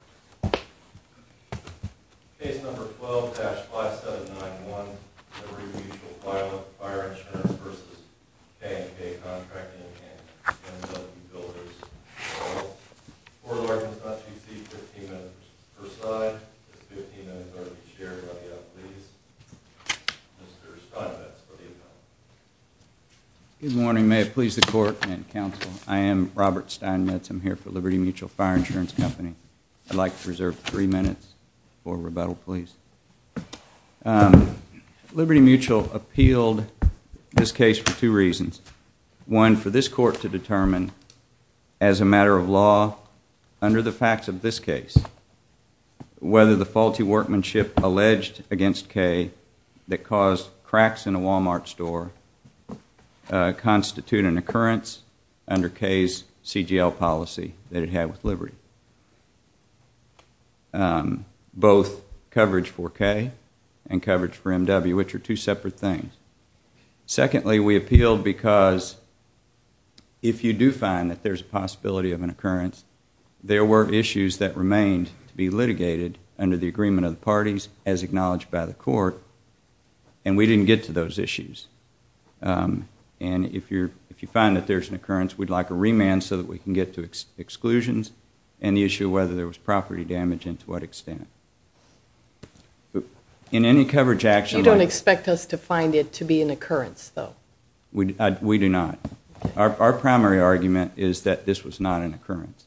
v. Kay and Kay Contracting & Builders. Court order is not to exceed 15 minutes per side. 15 minutes ought to be shared by the appellees. Mr. Steinmetz for the appellant. Good morning. May it please the court and counsel, I am Robert Steinmetz. I'm here for Liberty Mutual Fire Insurance Company. I'd like to reserve three minutes for rebuttal, please. Liberty Mutual appealed this case for two reasons. One, for this court to determine as a matter of law under the facts of this case whether the faulty workmanship alleged against Kay that caused cracks in a Walmart store constitute an occurrence under Kay's CGL policy that it had with Liberty. Both coverage for Kay and coverage for M.W. which are two separate things. Secondly, we appealed because if you do find that there's a possibility of an occurrence, there were issues that remained to be litigated under the agreement of the parties as acknowledged by the court and we didn't get to those issues. And if you find that there's an occurrence, we'd like a remand so that we can get to exclusions and the issue of whether there was property damage and to what extent. You don't expect us to find it to be an occurrence, though? We do not. Our primary argument is that this was not an occurrence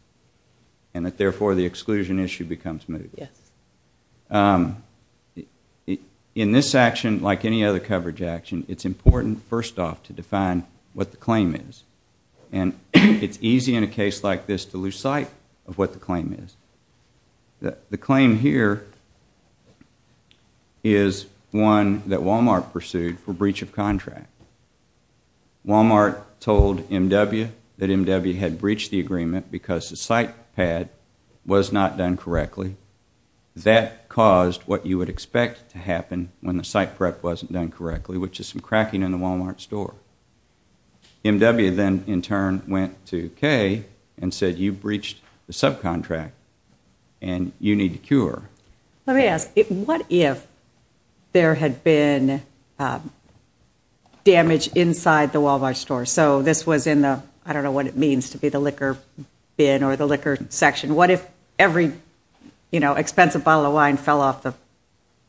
and that therefore the exclusion issue becomes mitigated. Yes. In this action, like any other coverage action, it's important first off to define what the claim is. And it's easy in a case like this to lose sight of what the claim is. The claim here is one that Walmart pursued for breach of contract. Walmart told M.W. that M.W. had breached the agreement because the site pad was not done correctly. That caused what you would expect to happen when the site prep wasn't done correctly, which is some cracking in the Walmart store. M.W. then in turn went to Kay and said you breached the subcontract and you need to cure. Let me ask, what if there had been damage inside the Walmart store? So this was in the, I don't know what it means to be the liquor bin or the liquor section. What if every expensive bottle of wine fell off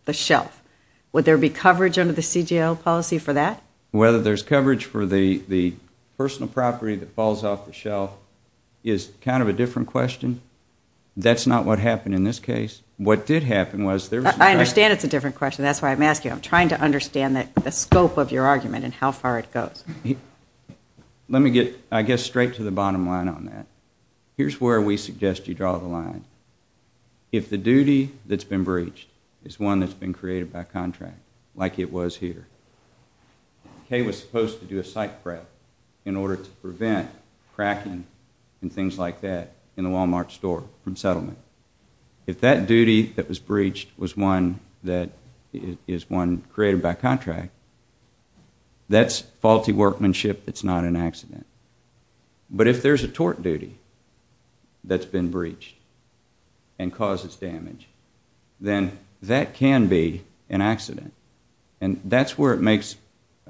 the shelf? Would there be coverage under the CGL policy for that? Whether there's coverage for the personal property that falls off the shelf is kind of a different question. That's not what happened in this case. What did happen was there was a- I understand it's a different question. That's why I'm asking. I'm trying to understand the scope of your argument and how far it goes. Let me get, I guess, straight to the bottom line on that. Here's where we suggest you draw the line. If the duty that's been breached is one that's been created by contract, like it was here, Kay was supposed to do a site prep in order to prevent cracking and things like that in the Walmart store from settlement. If that duty that was breached was one that is one created by contract, that's faulty workmanship, it's not an accident. But if there's a tort duty that's been breached and causes damage, then that can be an accident. And that's where it makes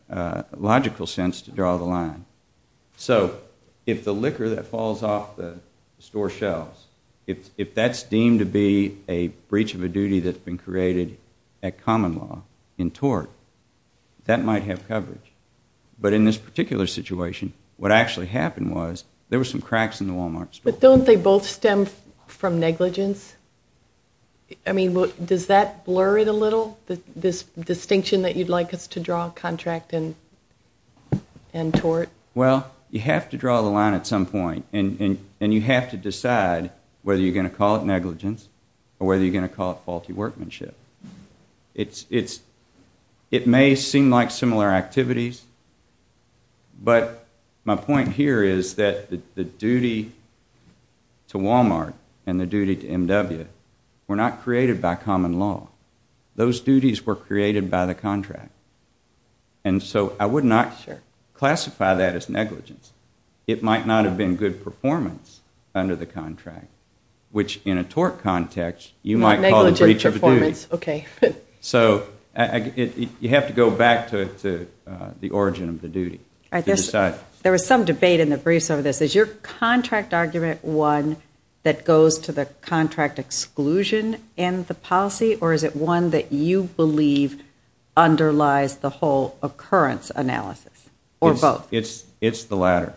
logical sense to draw the line. So if the liquor that falls off the store shelves, if that's deemed to be a breach of a duty that's been created at common law in tort, that might have coverage. But in this particular situation, what actually happened was there were some cracks in the Walmart store. But don't they both stem from negligence? I mean, does that blur it a little? This distinction that you'd like us to draw contract and tort? Well, you have to draw the line at some point, and you have to decide whether you're going to call it negligence or whether you're going to call it faulty workmanship. It may seem like similar activities, but my point here is that the duty to Walmart and the duty to MW were not created by common law. Those duties were created by the contract. And so I would not classify that as negligence. It might not have been good performance under the contract, which in a tort context you might call the breach of a duty. So you have to go back to the origin of the duty to decide. There was some debate in the briefs over this. Is your contract argument one that goes to the contract exclusion in the policy, or is it one that you believe underlies the whole occurrence analysis, or both? It's the latter.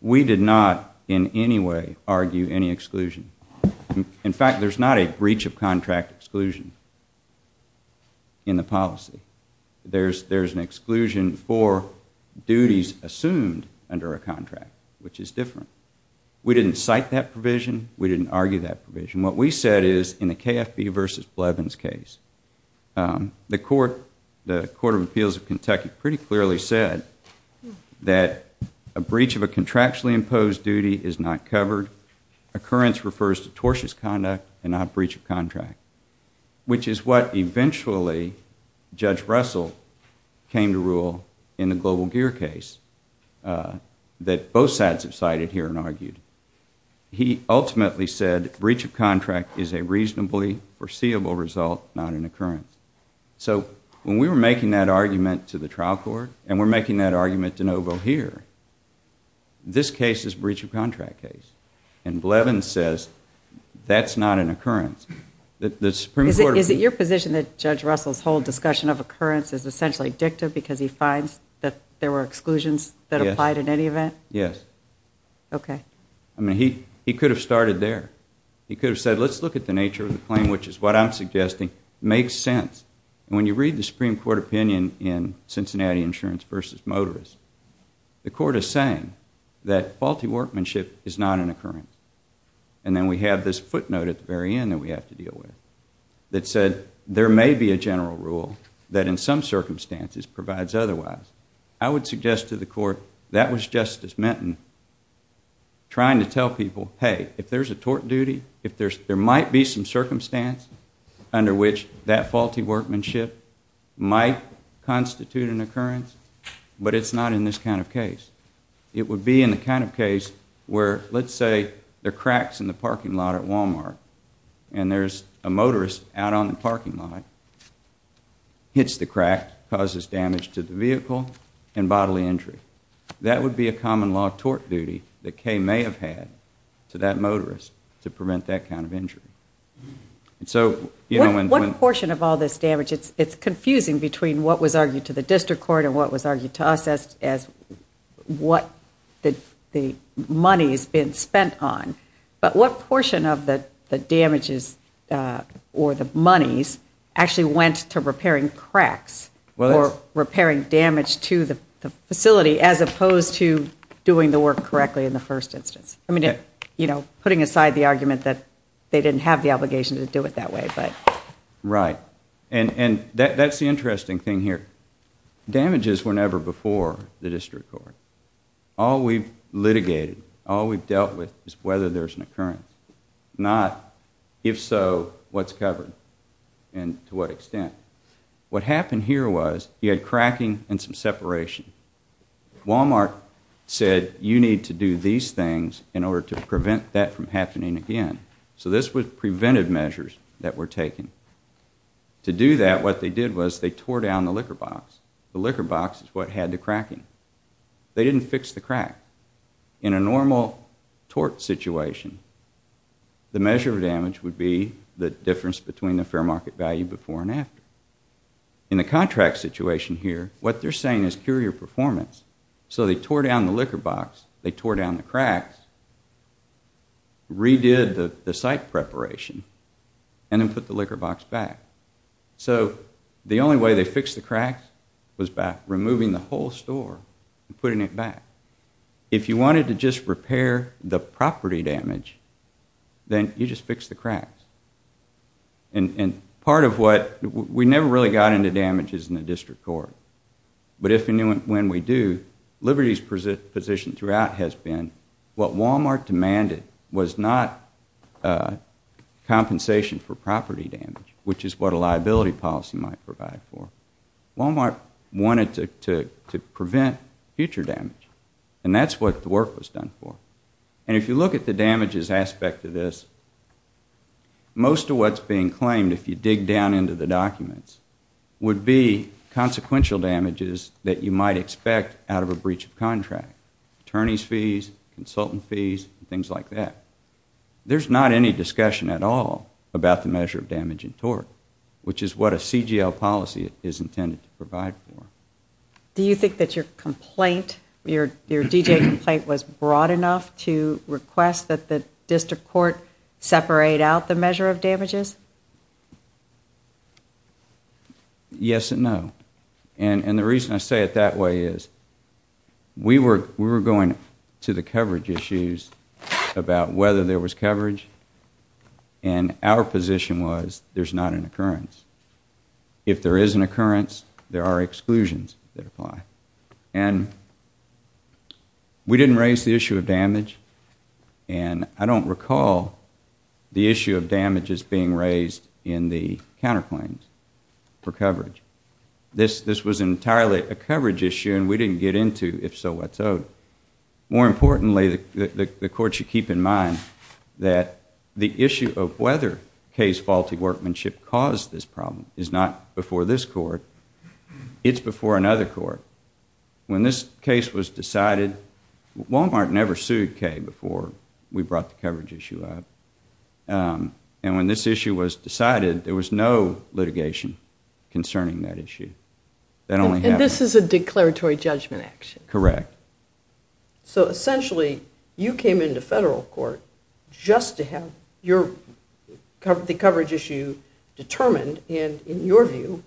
We did not in any way argue any exclusion. In fact, there's not a breach of contract exclusion in the policy. There's an exclusion for duties assumed under a contract, which is different. We didn't cite that provision. We didn't argue that provision. What we said is in the KFB versus Blevins case, the Court of Appeals of Kentucky pretty clearly said that a breach of a contractually imposed duty is not covered. Which is what eventually Judge Russell came to rule in the Global Gear case that both sides have cited here and argued. He ultimately said breach of contract is a reasonably foreseeable result, not an occurrence. So when we were making that argument to the trial court, and we're making that argument to Novo here, this case is a breach of contract case. And Blevins says that's not an occurrence. Is it your position that Judge Russell's whole discussion of occurrence is essentially addictive because he finds that there were exclusions that applied in any event? Yes. Okay. I mean, he could have started there. He could have said, let's look at the nature of the claim, which is what I'm suggesting makes sense. And when you read the Supreme Court opinion in Cincinnati Insurance versus Motorist, the court is saying that faulty workmanship is not an occurrence. And then we have this footnote at the very end that we have to deal with that said there may be a general rule that in some circumstances provides otherwise. I would suggest to the court that was Justice Minton trying to tell people, hey, if there's a tort duty, if there might be some circumstance under which that faulty workmanship might constitute an occurrence, but it's not in this kind of case. It would be in the kind of case where, let's say, there are cracks in the parking lot at Walmart and there's a motorist out on the parking lot, hits the crack, causes damage to the vehicle and bodily injury. That would be a common law of tort duty that Kay may have had to that motorist to prevent that kind of injury. What portion of all this damage, it's confusing between what was argued to the district court and what was argued to us as what the money has been spent on. But what portion of the damages or the monies actually went to repairing cracks or repairing damage to the facility as opposed to doing the work correctly in the first instance? Putting aside the argument that they didn't have the obligation to do it that way. Right. And that's the interesting thing here. Damages were never before the district court. All we've litigated, all we've dealt with is whether there's an occurrence, not if so, what's covered and to what extent. What happened here was you had cracking and some separation. Wal-Mart said you need to do these things in order to prevent that from happening again. So this prevented measures that were taken. To do that, what they did was they tore down the liquor box. The liquor box is what had the cracking. They didn't fix the crack. In a normal tort situation, the measure of damage would be the difference between the fair market value before and after. In the contract situation here, what they're saying is cure your performance. So they tore down the liquor box, they tore down the cracks, redid the site preparation, and then put the liquor box back. So the only way they fixed the cracks was by removing the whole store and putting it back. If you wanted to just repair the property damage, then you just fix the cracks. Part of what we never really got into damage is in the district court. But if and when we do, Liberty's position throughout has been what Wal-Mart demanded was not compensation for property damage, which is what a liability policy might provide for. Wal-Mart wanted to prevent future damage, and that's what the work was done for. And if you look at the damages aspect of this, most of what's being claimed, if you dig down into the documents, would be consequential damages that you might expect out of a breach of contract. Attorney's fees, consultant fees, things like that. There's not any discussion at all about the measure of damage in tort, which is what a CGL policy is intended to provide for. Do you think that your complaint, your D.J. complaint, was broad enough to request that the district court separate out the measure of damages? Yes and no. And the reason I say it that way is we were going to the coverage issues about whether there was coverage, and our position was there's not an occurrence. If there is an occurrence, there are exclusions that apply. And we didn't raise the issue of damage, and I don't recall the issue of damages being raised in the counterclaims for coverage. This was entirely a coverage issue, and we didn't get into if so what so. More importantly, the court should keep in mind that the issue of whether Kay's faulty workmanship caused this problem is not before this court. It's before another court. When this case was decided, Walmart never sued Kay before we brought the coverage issue up. And when this issue was decided, there was no litigation concerning that issue. And this is a declaratory judgment action? Correct. So essentially, you came into federal court just to have the coverage issue determined and, in your view,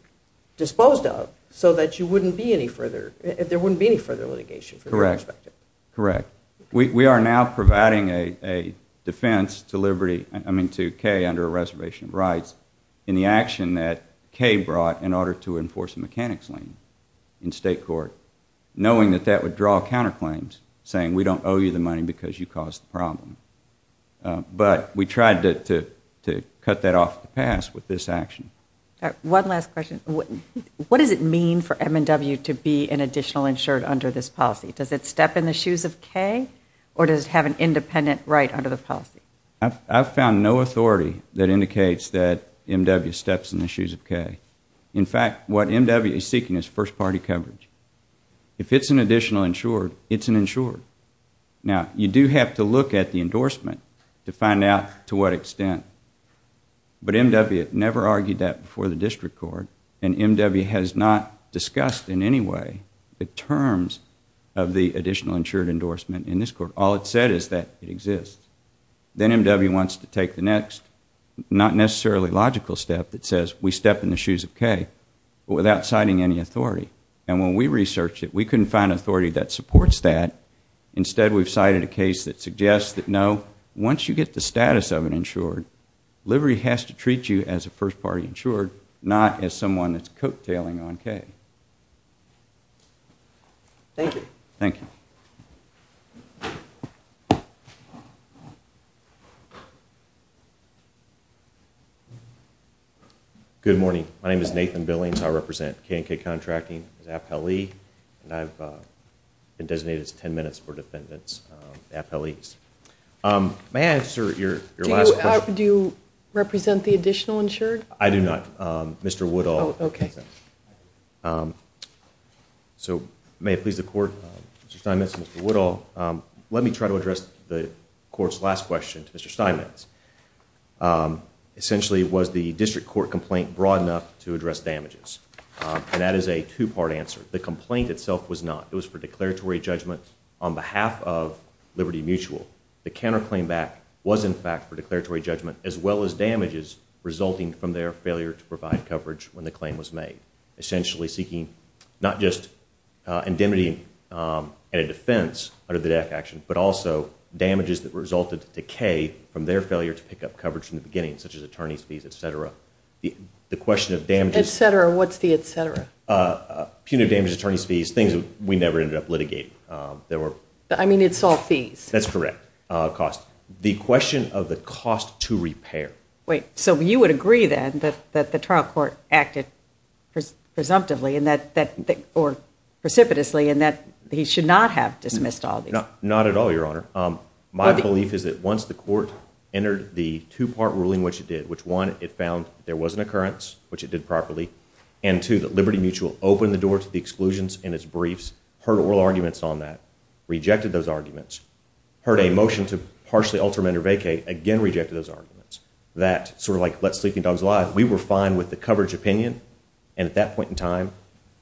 disposed of so that there wouldn't be any further litigation? Correct. We are now providing a defense to Kay under a reservation of rights in the action that Kay brought in order to enforce a mechanics lien in state court, knowing that that would draw counterclaims, saying we don't owe you the money because you caused the problem. But we tried to cut that off the pass with this action. One last question. What does it mean for M&W to be an additional insured under this policy? Does it step in the shoes of Kay, or does it have an independent right under the policy? I've found no authority that indicates that M&W steps in the shoes of Kay. In fact, what M&W is seeking is first-party coverage. If it's an additional insured, it's an insured. Now, you do have to look at the endorsement to find out to what extent. But M&W never argued that before the district court, and M&W has not discussed in any way the terms of the additional insured endorsement in this court. All it said is that it exists. Then M&W wants to take the next not necessarily logical step that says we step in the shoes of Kay without citing any authority. And when we researched it, we couldn't find authority that supports that. Instead, we've cited a case that suggests that, no, once you get the status of an insured, livery has to treat you as a first-party insured, not as someone that's coattailing on Kay. Thank you. Thank you. Good morning. My name is Nathan Billings. I represent K&K Contracting as appellee, and I've been designated as 10 minutes for defendants, appellees. May I answer your last question? Do you represent the additional insured? I do not. Mr. Woodall. Oh, okay. So may it please the Court, Mr. Steinmetz and Mr. Woodall, let me try to address the Court's last question to Mr. Steinmetz. Essentially, was the district court complaint broad enough to address damages? And that is a two-part answer. The complaint itself was not. It was for declaratory judgment on behalf of Liberty Mutual. The counterclaim back was, in fact, for declaratory judgment, as well as damages resulting from their failure to provide coverage when the claim was made, essentially seeking not just indemnity and a defense under the death action, but also damages that resulted to decay from their failure to pick up coverage from the beginning, such as attorney's fees, et cetera. The question of damages. Et cetera. What's the et cetera? Punitive damages, attorney's fees, things we never ended up litigating. I mean, it's all fees. That's correct. Cost. The question of the cost to repair. Wait. So you would agree, then, that the trial court acted presumptively or precipitously and that he should not have dismissed all these? Not at all, Your Honor. My belief is that once the court entered the two-part ruling, which it did, which one, it found there was an occurrence, which it did properly, and two, that Liberty Mutual opened the door to the exclusions in its briefs, heard oral arguments on that, rejected those arguments, heard a motion to partially alter amend or vacate, again rejected those arguments, that sort of like let sleeping dogs lie, we were fine with the coverage opinion and at that point in time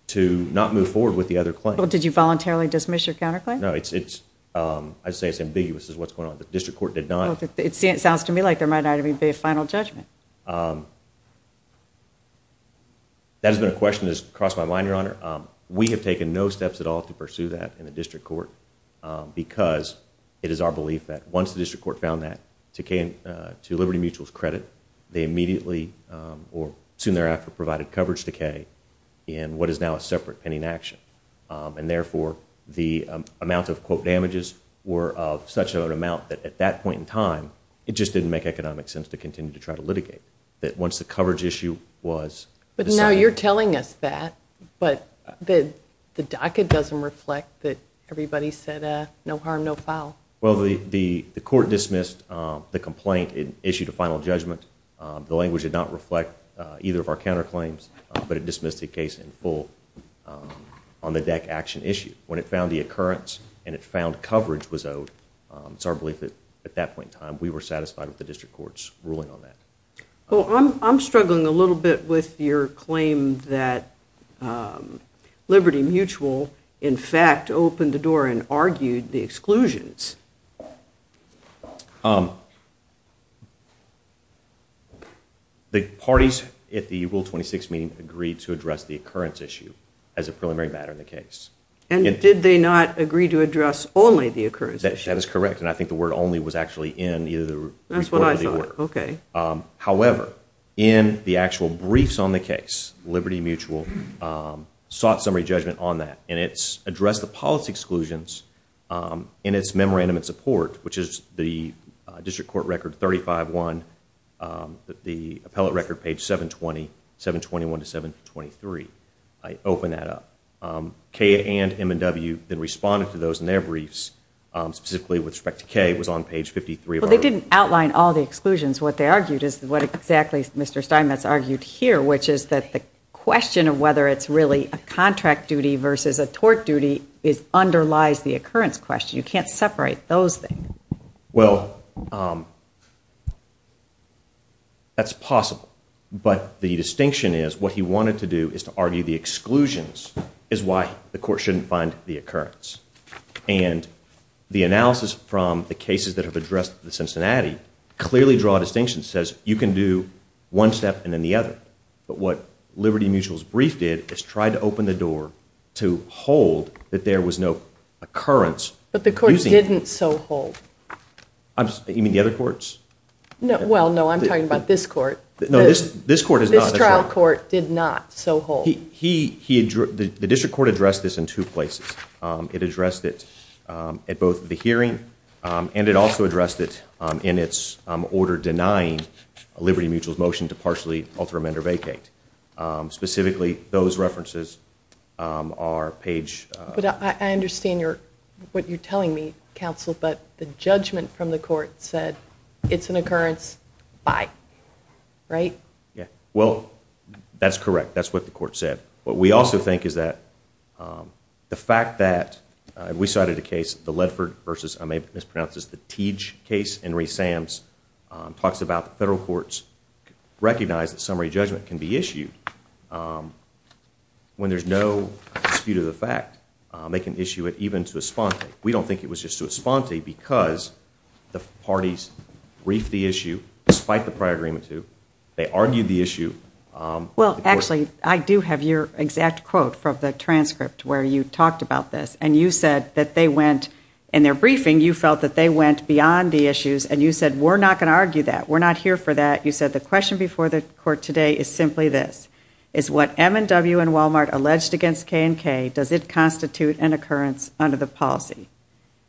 to not move forward with the other claim. Did you voluntarily dismiss your counterclaim? No. I'd say it's ambiguous as to what's going on. The district court did not. It sounds to me like there might not even be a final judgment. That has been a question that has crossed my mind, Your Honor. We have taken no steps at all to pursue that in the district court because it is our belief that once the district court found that, to Liberty Mutual's credit, they immediately or soon thereafter provided coverage to Kay in what is now a separate pending action. And therefore, the amount of damages were of such an amount that at that point in time, it just didn't make economic sense to continue to try to litigate. That once the coverage issue was decided. But now you're telling us that, but the docket doesn't reflect that everybody said no harm, no foul. Well, the court dismissed the complaint. It issued a final judgment. The language did not reflect either of our counterclaims, but it dismissed the case in full on the deck action issue. When it found the occurrence and it found coverage was owed, it's our belief that at that point in time, we were satisfied with the district court's ruling on that. Well, I'm struggling a little bit with your claim that Liberty Mutual in fact opened the door and argued the exclusions. The parties at the Rule 26 meeting agreed to address the occurrence issue as a preliminary matter in the case. And did they not agree to address only the occurrence issue? That is correct. And I think the word only was actually in either the report or the order. That's what I thought. Okay. However, in the actual briefs on the case, Liberty Mutual sought summary judgment on that. And it's addressed the policy exclusions in its memorandum of support, which is the district court record 35-1, the appellate record page 720, 721 to 723. I open that up. K and M&W then responded to those in their briefs. Specifically with respect to K, it was on page 53. Well, they didn't outline all the exclusions. What they argued is what exactly Mr. Steinmetz argued here, which is that the question of whether it's really a contract duty versus a tort duty underlies the occurrence question. You can't separate those things. Well, that's possible. But the distinction is what he wanted to do is to argue the exclusions is why the court shouldn't find the occurrence. And the analysis from the cases that have addressed the Cincinnati clearly draw a distinction, says you can do one step and then the other. But what Liberty Mutual's brief did is try to open the door to hold that there was no occurrence. But the court didn't so hold. You mean the other courts? Well, no, I'm talking about this court. No, this court is not. This trial court did not so hold. The district court addressed this in two places. It addressed it at both the hearing and it also addressed it in its order denying Liberty Mutual's motion to partially alter amend or vacate. Specifically, those references are page. But I understand what you're telling me, counsel, but the judgment from the court said it's an occurrence, bye. Right? Well, that's correct. That's what the court said. What we also think is that the fact that we cited a case, the Ledford versus, I may have mispronounced this, the Tiege case, Henry Sam's, talks about the federal courts recognize that summary judgment can be issued when there's no dispute of the fact. They can issue it even to a sponte. We don't think it was just to a sponte because the parties briefed the issue, despite the prior agreement to. They argued the issue. Well, actually, I do have your exact quote from the transcript where you talked about this. In their briefing, you felt that they went beyond the issues, and you said, we're not going to argue that. We're not here for that. You said, the question before the court today is simply this. Is what M&W and Walmart alleged against K&K, does it constitute an occurrence under the policy?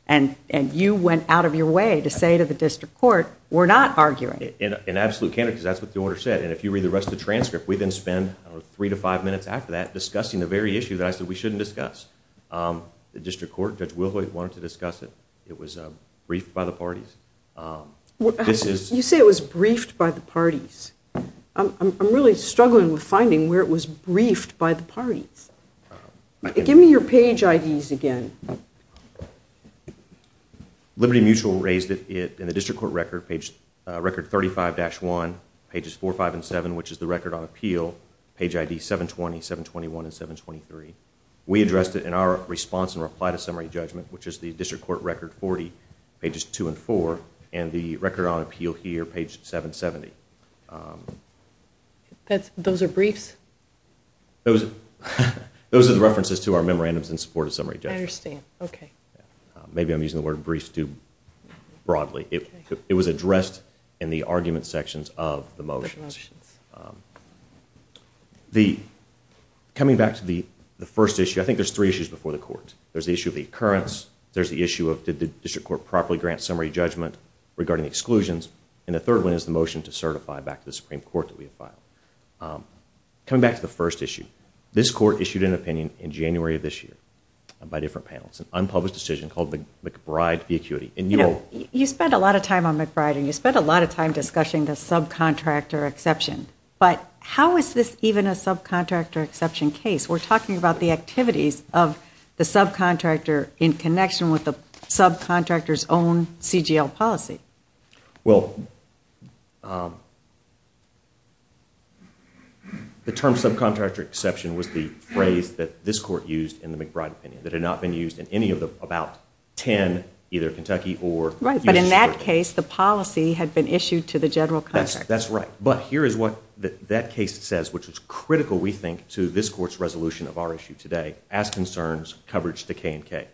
And you went out of your way to say to the district court, we're not arguing. In absolute candor, because that's what the order said. And if you read the rest of the transcript, we then spend three to five minutes after that discussing the very issue that I said we shouldn't discuss. The district court, Judge Wilhoyd, wanted to discuss it. It was briefed by the parties. You say it was briefed by the parties. I'm really struggling with finding where it was briefed by the parties. Give me your page IDs again. Liberty Mutual raised it in the district court record, record 35-1, pages 4, 5, and 7, which is the record on appeal. Page ID 720, 721, and 723. We addressed it in our response and reply to summary judgment, which is the district court record 40, pages 2 and 4, and the record on appeal here, page 770. Those are briefs? Those are the references to our memorandums in support of summary judgment. I understand. Okay. Maybe I'm using the word brief too broadly. It was addressed in the argument sections of the motions. Coming back to the first issue, I think there's three issues before the court. There's the issue of the occurrence, there's the issue of did the district court properly grant summary judgment regarding exclusions, and the third one is the motion to certify back to the Supreme Court that we have filed. Coming back to the first issue, this court issued an opinion in January of this year by different panels, an unpublished decision called McBride v. Acuity. You spend a lot of time on McBride, and you spend a lot of time discussing the subcontractor exception, but how is this even a subcontractor exception case? We're talking about the activities of the subcontractor in connection with the subcontractor's own CGL policy. Well, the term subcontractor exception was the phrase that this court used in the McBride opinion that had not been used in any of the about 10, either Kentucky or U.S. In that case, the policy had been issued to the general contractor. That's right, but here is what that case says, which is critical, we think, to this court's resolution of our issue today, as concerns coverage to K&K.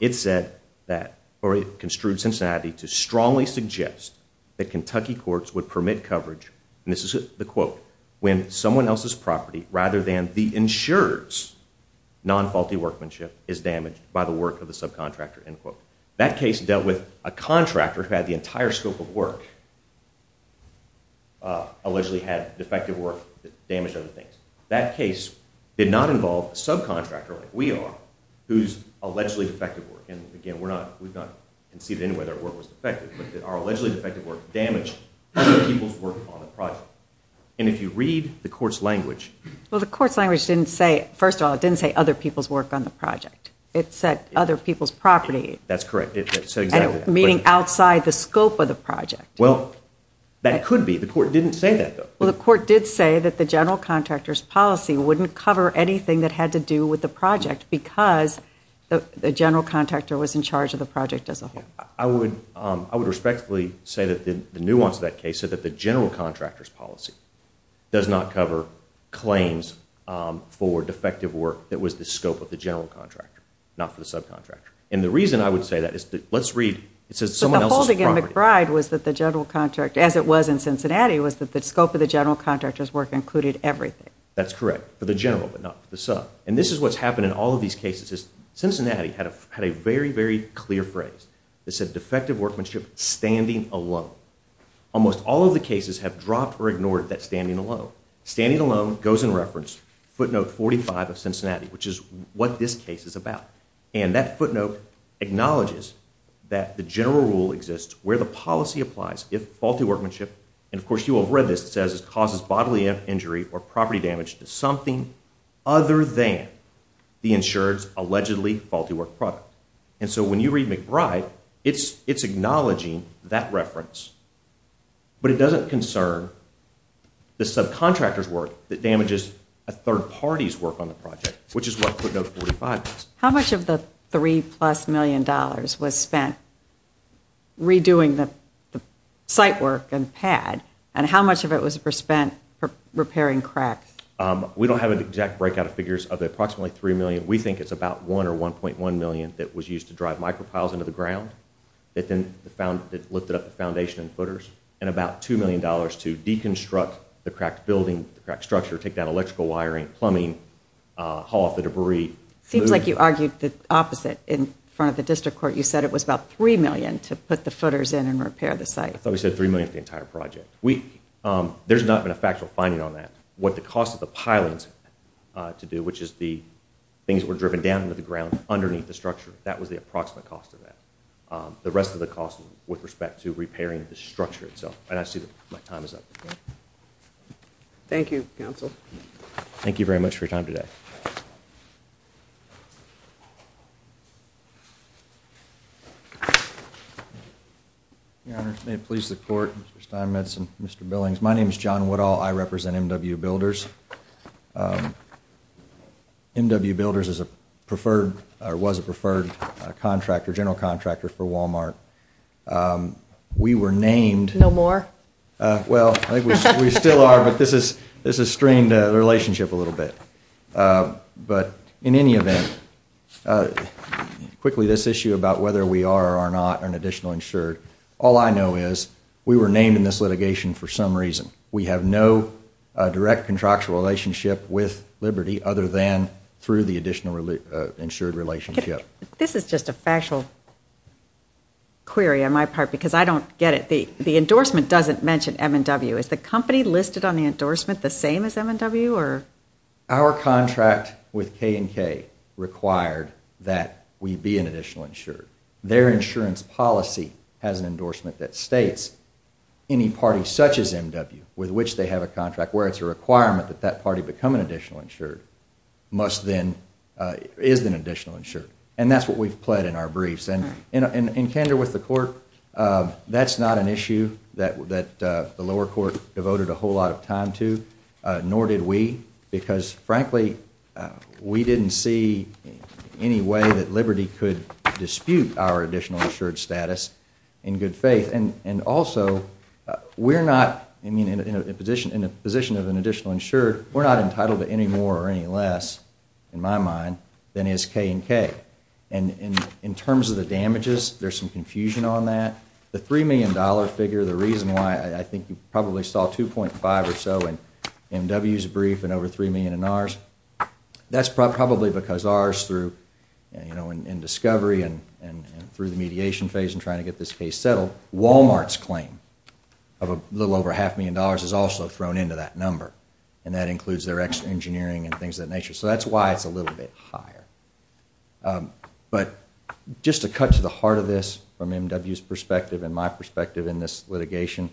It said that, or it construed Cincinnati to strongly suggest that Kentucky courts would permit coverage, and this is the quote, when someone else's property rather than the insurer's non-faulty workmanship is damaged by the work of the subcontractor, end quote. That case dealt with a contractor who had the entire scope of work, allegedly had defective work that damaged other things. That case did not involve a subcontractor, like we are, whose allegedly defective work, and again, we're not conceiving whether their work was defective, but that our allegedly defective work damaged other people's work on the project. And if you read the court's language... Well, the court's language didn't say, first of all, it didn't say other people's work on the project. It said other people's property. That's correct. Meaning outside the scope of the project. Well, that could be. The court didn't say that, though. Well, the court did say that the general contractor's policy wouldn't cover anything that had to do with the project because the general contractor was in charge of the project as a whole. I would respectfully say that the nuance of that case said that the general contractor's policy does not cover claims for defective work that was the scope of the general contractor, not for the subcontractor. And the reason I would say that is... But the holding in McBride was that the general contractor, as it was in Cincinnati, was that the scope of the general contractor's work included everything. That's correct. For the general, but not for the sub. And this is what's happened in all of these cases. Cincinnati had a very, very clear phrase that said defective workmanship, standing alone. Almost all of the cases have dropped or ignored that standing alone. Standing alone goes in reference, footnote 45 of Cincinnati, which is what this case is about. And that footnote acknowledges that the general rule exists where the policy applies if faulty workmanship... And, of course, you all have read this. It says it causes bodily injury or property damage to something other than the insured's allegedly faulty work product. And so when you read McBride, it's acknowledging that reference. But it doesn't concern the subcontractor's work that damages a third party's work on the project, which is what footnote 45 does. How much of the $3-plus million was spent redoing the site work and pad? And how much of it was spent repairing cracks? We don't have an exact breakout of figures of approximately $3 million. We think it's about $1 or $1.1 million that was used to drive micropiles into the ground that lifted up the foundation and footers, and about $2 million to deconstruct the cracked building, the cracked structure, take down electrical wiring, plumbing, haul off the debris. Seems like you argued the opposite in front of the district court. You said it was about $3 million to put the footers in and repair the site. I thought we said $3 million for the entire project. There's not been a factual finding on that. What the cost of the pilings to do, which is the things that were driven down into the ground underneath the structure, that was the approximate cost of that. The rest of the cost with respect to repairing the structure itself. And I see that my time is up. Thank you, Counsel. Thank you very much for your time today. Your Honor, may it please the Court, Mr. Steinmetz and Mr. Billings, my name is John Woodall. I represent MW Builders. MW Builders is a preferred, or was a preferred, general contractor for Walmart. We were named... No more? Well, I think we still are, but this has strained the relationship a little bit. But in any event, quickly, this issue about whether we are or are not an additional insured, all I know is we were named in this litigation for some reason. We have no direct contractual relationship with Liberty other than through the additional insured relationship. This is just a factual query on my part, because I don't get it. The endorsement doesn't mention M&W. Is the company listed on the endorsement the same as M&W? Our contract with K&K required that we be an additional insured. Their insurance policy has an endorsement that states any party such as MW, with which they have a contract, where it's a requirement that that party become an additional insured, must then... is an additional insured. And that's what we've pled in our briefs. And in candor with the court, that's not an issue that the lower court devoted a whole lot of time to, nor did we, because frankly, we didn't see any way that Liberty could dispute our additional insured status in good faith. And also, we're not... I mean, in a position of an additional insured, we're not entitled to any more or any less, in my mind, than is K&K. And in terms of the damages, there's some confusion on that. The $3 million figure, the reason why, I think you probably saw 2.5 or so in MW's brief and over $3 million in ours, that's probably because ours, through, you know, in discovery and through the mediation phase and trying to get this case settled, Walmart's claim of a little over half a million dollars is also thrown into that number. And that includes their engineering and things of that nature. So that's why it's a little bit higher. But just to cut to the heart of this, from MW's perspective and my perspective in this litigation,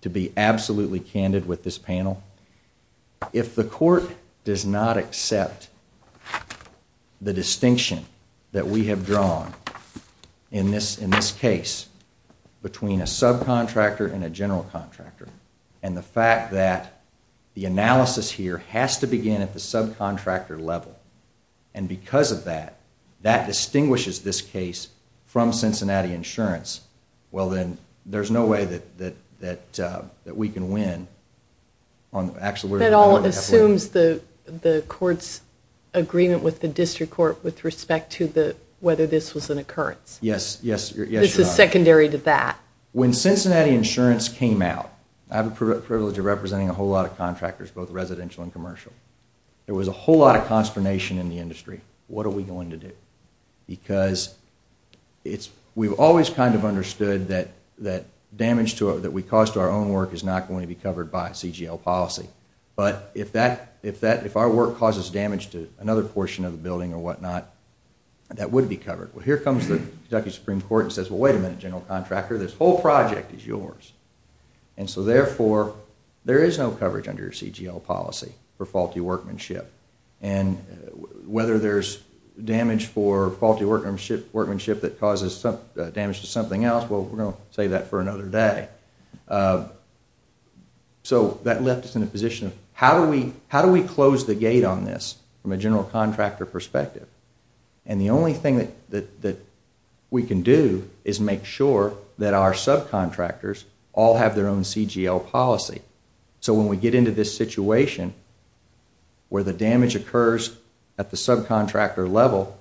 to be absolutely candid with this panel, if the court does not accept the distinction that we have drawn in this case between a subcontractor and a general contractor and the fact that the analysis here has to begin at the subcontractor level and because of that, that distinguishes this case from Cincinnati Insurance, well then, there's no way that we can win. That all assumes the court's agreement with the district court with respect to whether this was an occurrence. Yes. This is secondary to that. When Cincinnati Insurance came out, I have the privilege of representing a whole lot of contractors, both residential and commercial. There was a whole lot of consternation in the industry. What are we going to do? Because we've always kind of understood that damage that we cause to our own work is not going to be covered by a CGL policy. But if our work causes damage to another portion of the building or whatnot, that would be covered. Well, here comes the Kentucky Supreme Court and says, well, wait a minute, general contractor. This whole project is yours. And so therefore, there is no coverage under your CGL policy for faulty workmanship. And whether there's damage for faulty workmanship that causes damage to something else, well, we're going to save that for another day. So that left us in a position of, how do we close the gate on this from a general contractor perspective? And the only thing that we can do is make sure that our subcontractors all have their own CGL policy. So when we get into this situation where the damage occurs at the subcontractor level,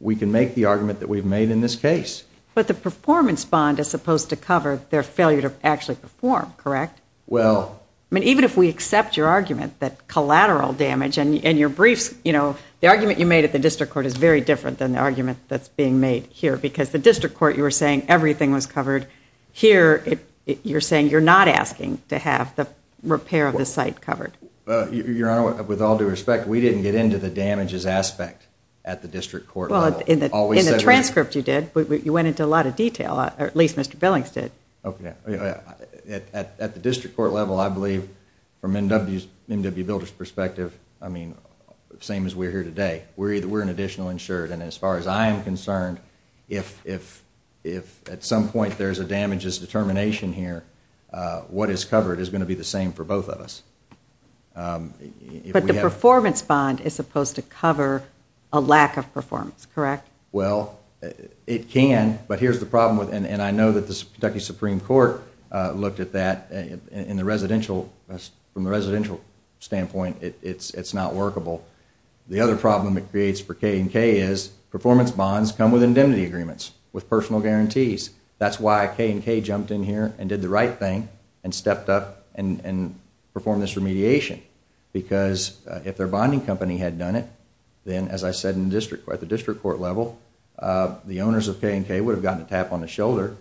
we can make the argument that we've made in this case. But the performance bond is supposed to cover their failure to actually perform, correct? Well... I mean, even if we accept your argument that collateral damage and your briefs, you know, the argument you made at the district court is very different than the argument that's being made here because the district court, you were saying, everything was covered. Here, you're saying you're not asking to have the repair of the site covered. Your Honor, with all due respect, we didn't get into the damages aspect at the district court level. Well, in the transcript you did. You went into a lot of detail, or at least Mr. Billings did. Okay. At the district court level, I believe, from MW Builder's perspective, I mean, same as we're here today, we're an additional insured. And as far as I'm concerned, if at some point there's a damages determination here, what is covered is going to be the same for both of us. But the performance bond is supposed to cover a lack of performance, correct? Well, it can. But here's the problem, and I know that the Kentucky Supreme Court looked at that in the residential... from the residential standpoint, it's not workable. The other problem it creates for K&K is performance bonds come with indemnity agreements, with personal guarantees. That's why K&K jumped in here and did the right thing and stepped up and performed this remediation. Because if their bonding company had done it, then as I said at the district court level, the owners of K&K would have gotten a tap on the shoulder.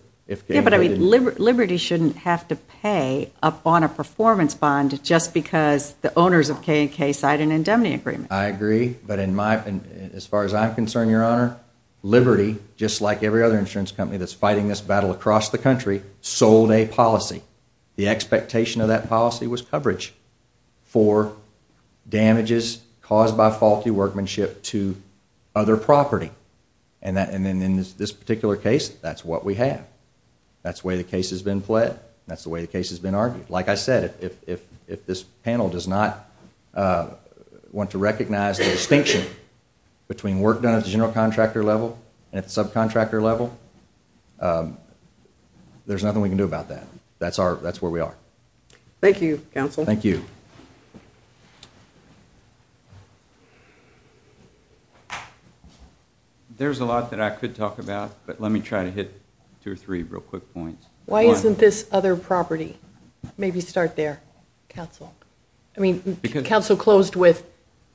Yeah, but I mean, Liberty shouldn't have to pay up on a performance bond just because the owners of K&K signed an indemnity agreement. I agree, but as far as I'm concerned, Your Honor, Liberty, just like every other insurance company that's fighting this battle across the country, sold a policy. The expectation of that policy was coverage for damages caused by faulty workmanship to other property. And in this particular case, that's what we have. That's the way the case has been pled. That's the way the case has been argued. Like I said, if this panel does not want to recognize the distinction between work done at the general contractor level and at the subcontractor level, there's nothing we can do about that. That's where we are. Thank you, counsel. Thank you. There's a lot that I could talk about, but let me try to hit two or three real quick points. Why isn't this other property? Maybe start there, counsel. I mean, counsel closed with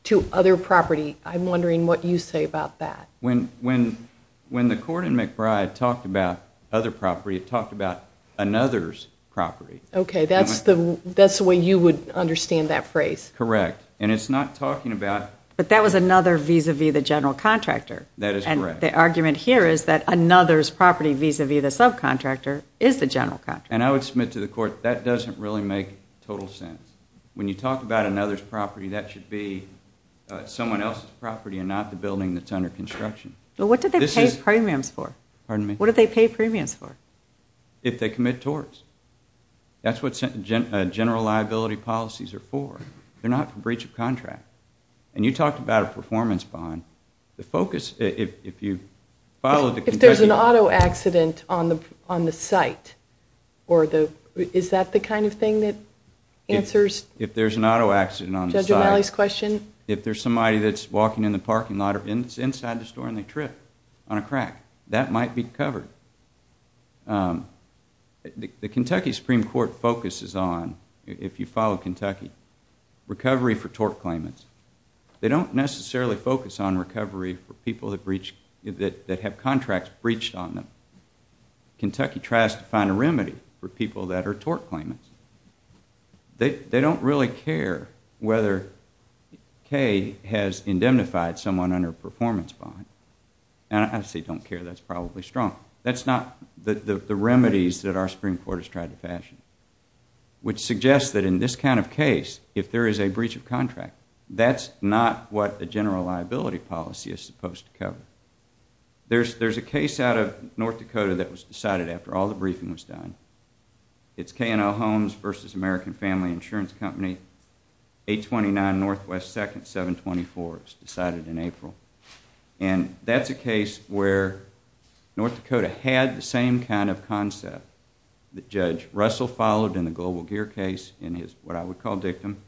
two other property. I'm wondering what you say about that. When the court in McBride talked about other property, it talked about another's property. Okay, that's the way you would understand that phrase. And it's not talking about... But that was another vis-a-vis the general contractor. That is correct. And the argument here is that another's property vis-a-vis the subcontractor is the general contractor. And I would submit to the court, that doesn't really make total sense. When you talk about another's property, that should be someone else's property and not the building that's under construction. But what do they pay premiums for? Pardon me? What do they pay premiums for? If they commit torts. That's what general liability policies are for. They're not for breach of contract. And you talked about a performance bond. The focus, if you follow the... If there's an auto accident on the site, is that the kind of thing that answers... If there's an auto accident on the site... Judge O'Malley's question? If there's somebody that's walking in the parking lot or inside the store and they trip on a crack, that might be covered. The Kentucky Supreme Court focuses on, if you follow Kentucky, recovery for tort claimants. They don't necessarily focus on recovery for people that have contracts breached on them. Kentucky tries to find a remedy for people that are tort claimants. They don't really care whether Kay has indemnified someone under a performance bond. And I say don't care. That's probably strong. That's not the remedies that our Supreme Court has tried to fashion, which suggests that in this kind of case, if there is a breach of contract, that's not what a general liability policy is supposed to cover. There's a case out of North Dakota that was decided after all the briefing was done. It's K&L Homes versus American Family Insurance Company, 829 Northwest 2nd, 724. It was decided in April. And that's a case where North Dakota had the same kind of concept that Judge Russell followed in the Global Gear case in his, what I would call, dictum,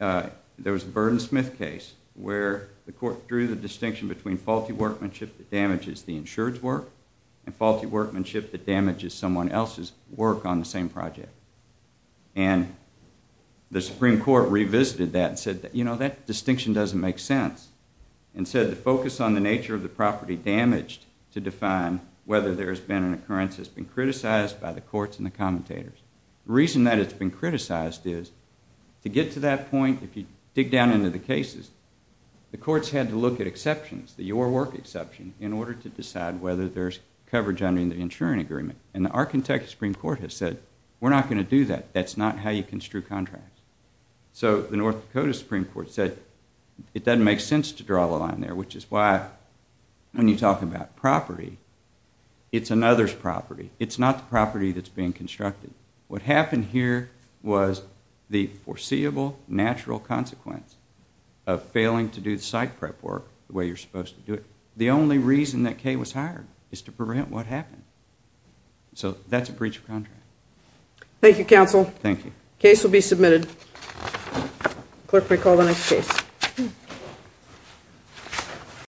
there was a Burns-Smith case where the court drew the distinction between faulty workmanship that damages the insured's work and faulty workmanship that damages someone else's work on the same project. And the Supreme Court revisited that and said, you know, that distinction doesn't make sense. And said the focus on the nature of the property damaged to define whether there has been an occurrence has been criticized by the courts and the commentators. The reason that it's been criticized is to get to that point, if you dig down into the cases, the courts had to look at exceptions, the your work exception, in order to decide whether there's coverage under the insuring agreement. And the Arkansas Supreme Court has said, we're not going to do that. That's not how you construe contracts. So the North Dakota Supreme Court said, it doesn't make sense to draw the line there, which is why when you talk about property, it's another's property. It's not the property that's being constructed. What happened here was the foreseeable natural consequence of failing to do the site prep work the way you're supposed to do it. The only reason that Kay was hired is to prevent what happened. So that's a breach of contract. Thank you, counsel. Thank you. Case will be submitted. Clerk, recall the next case.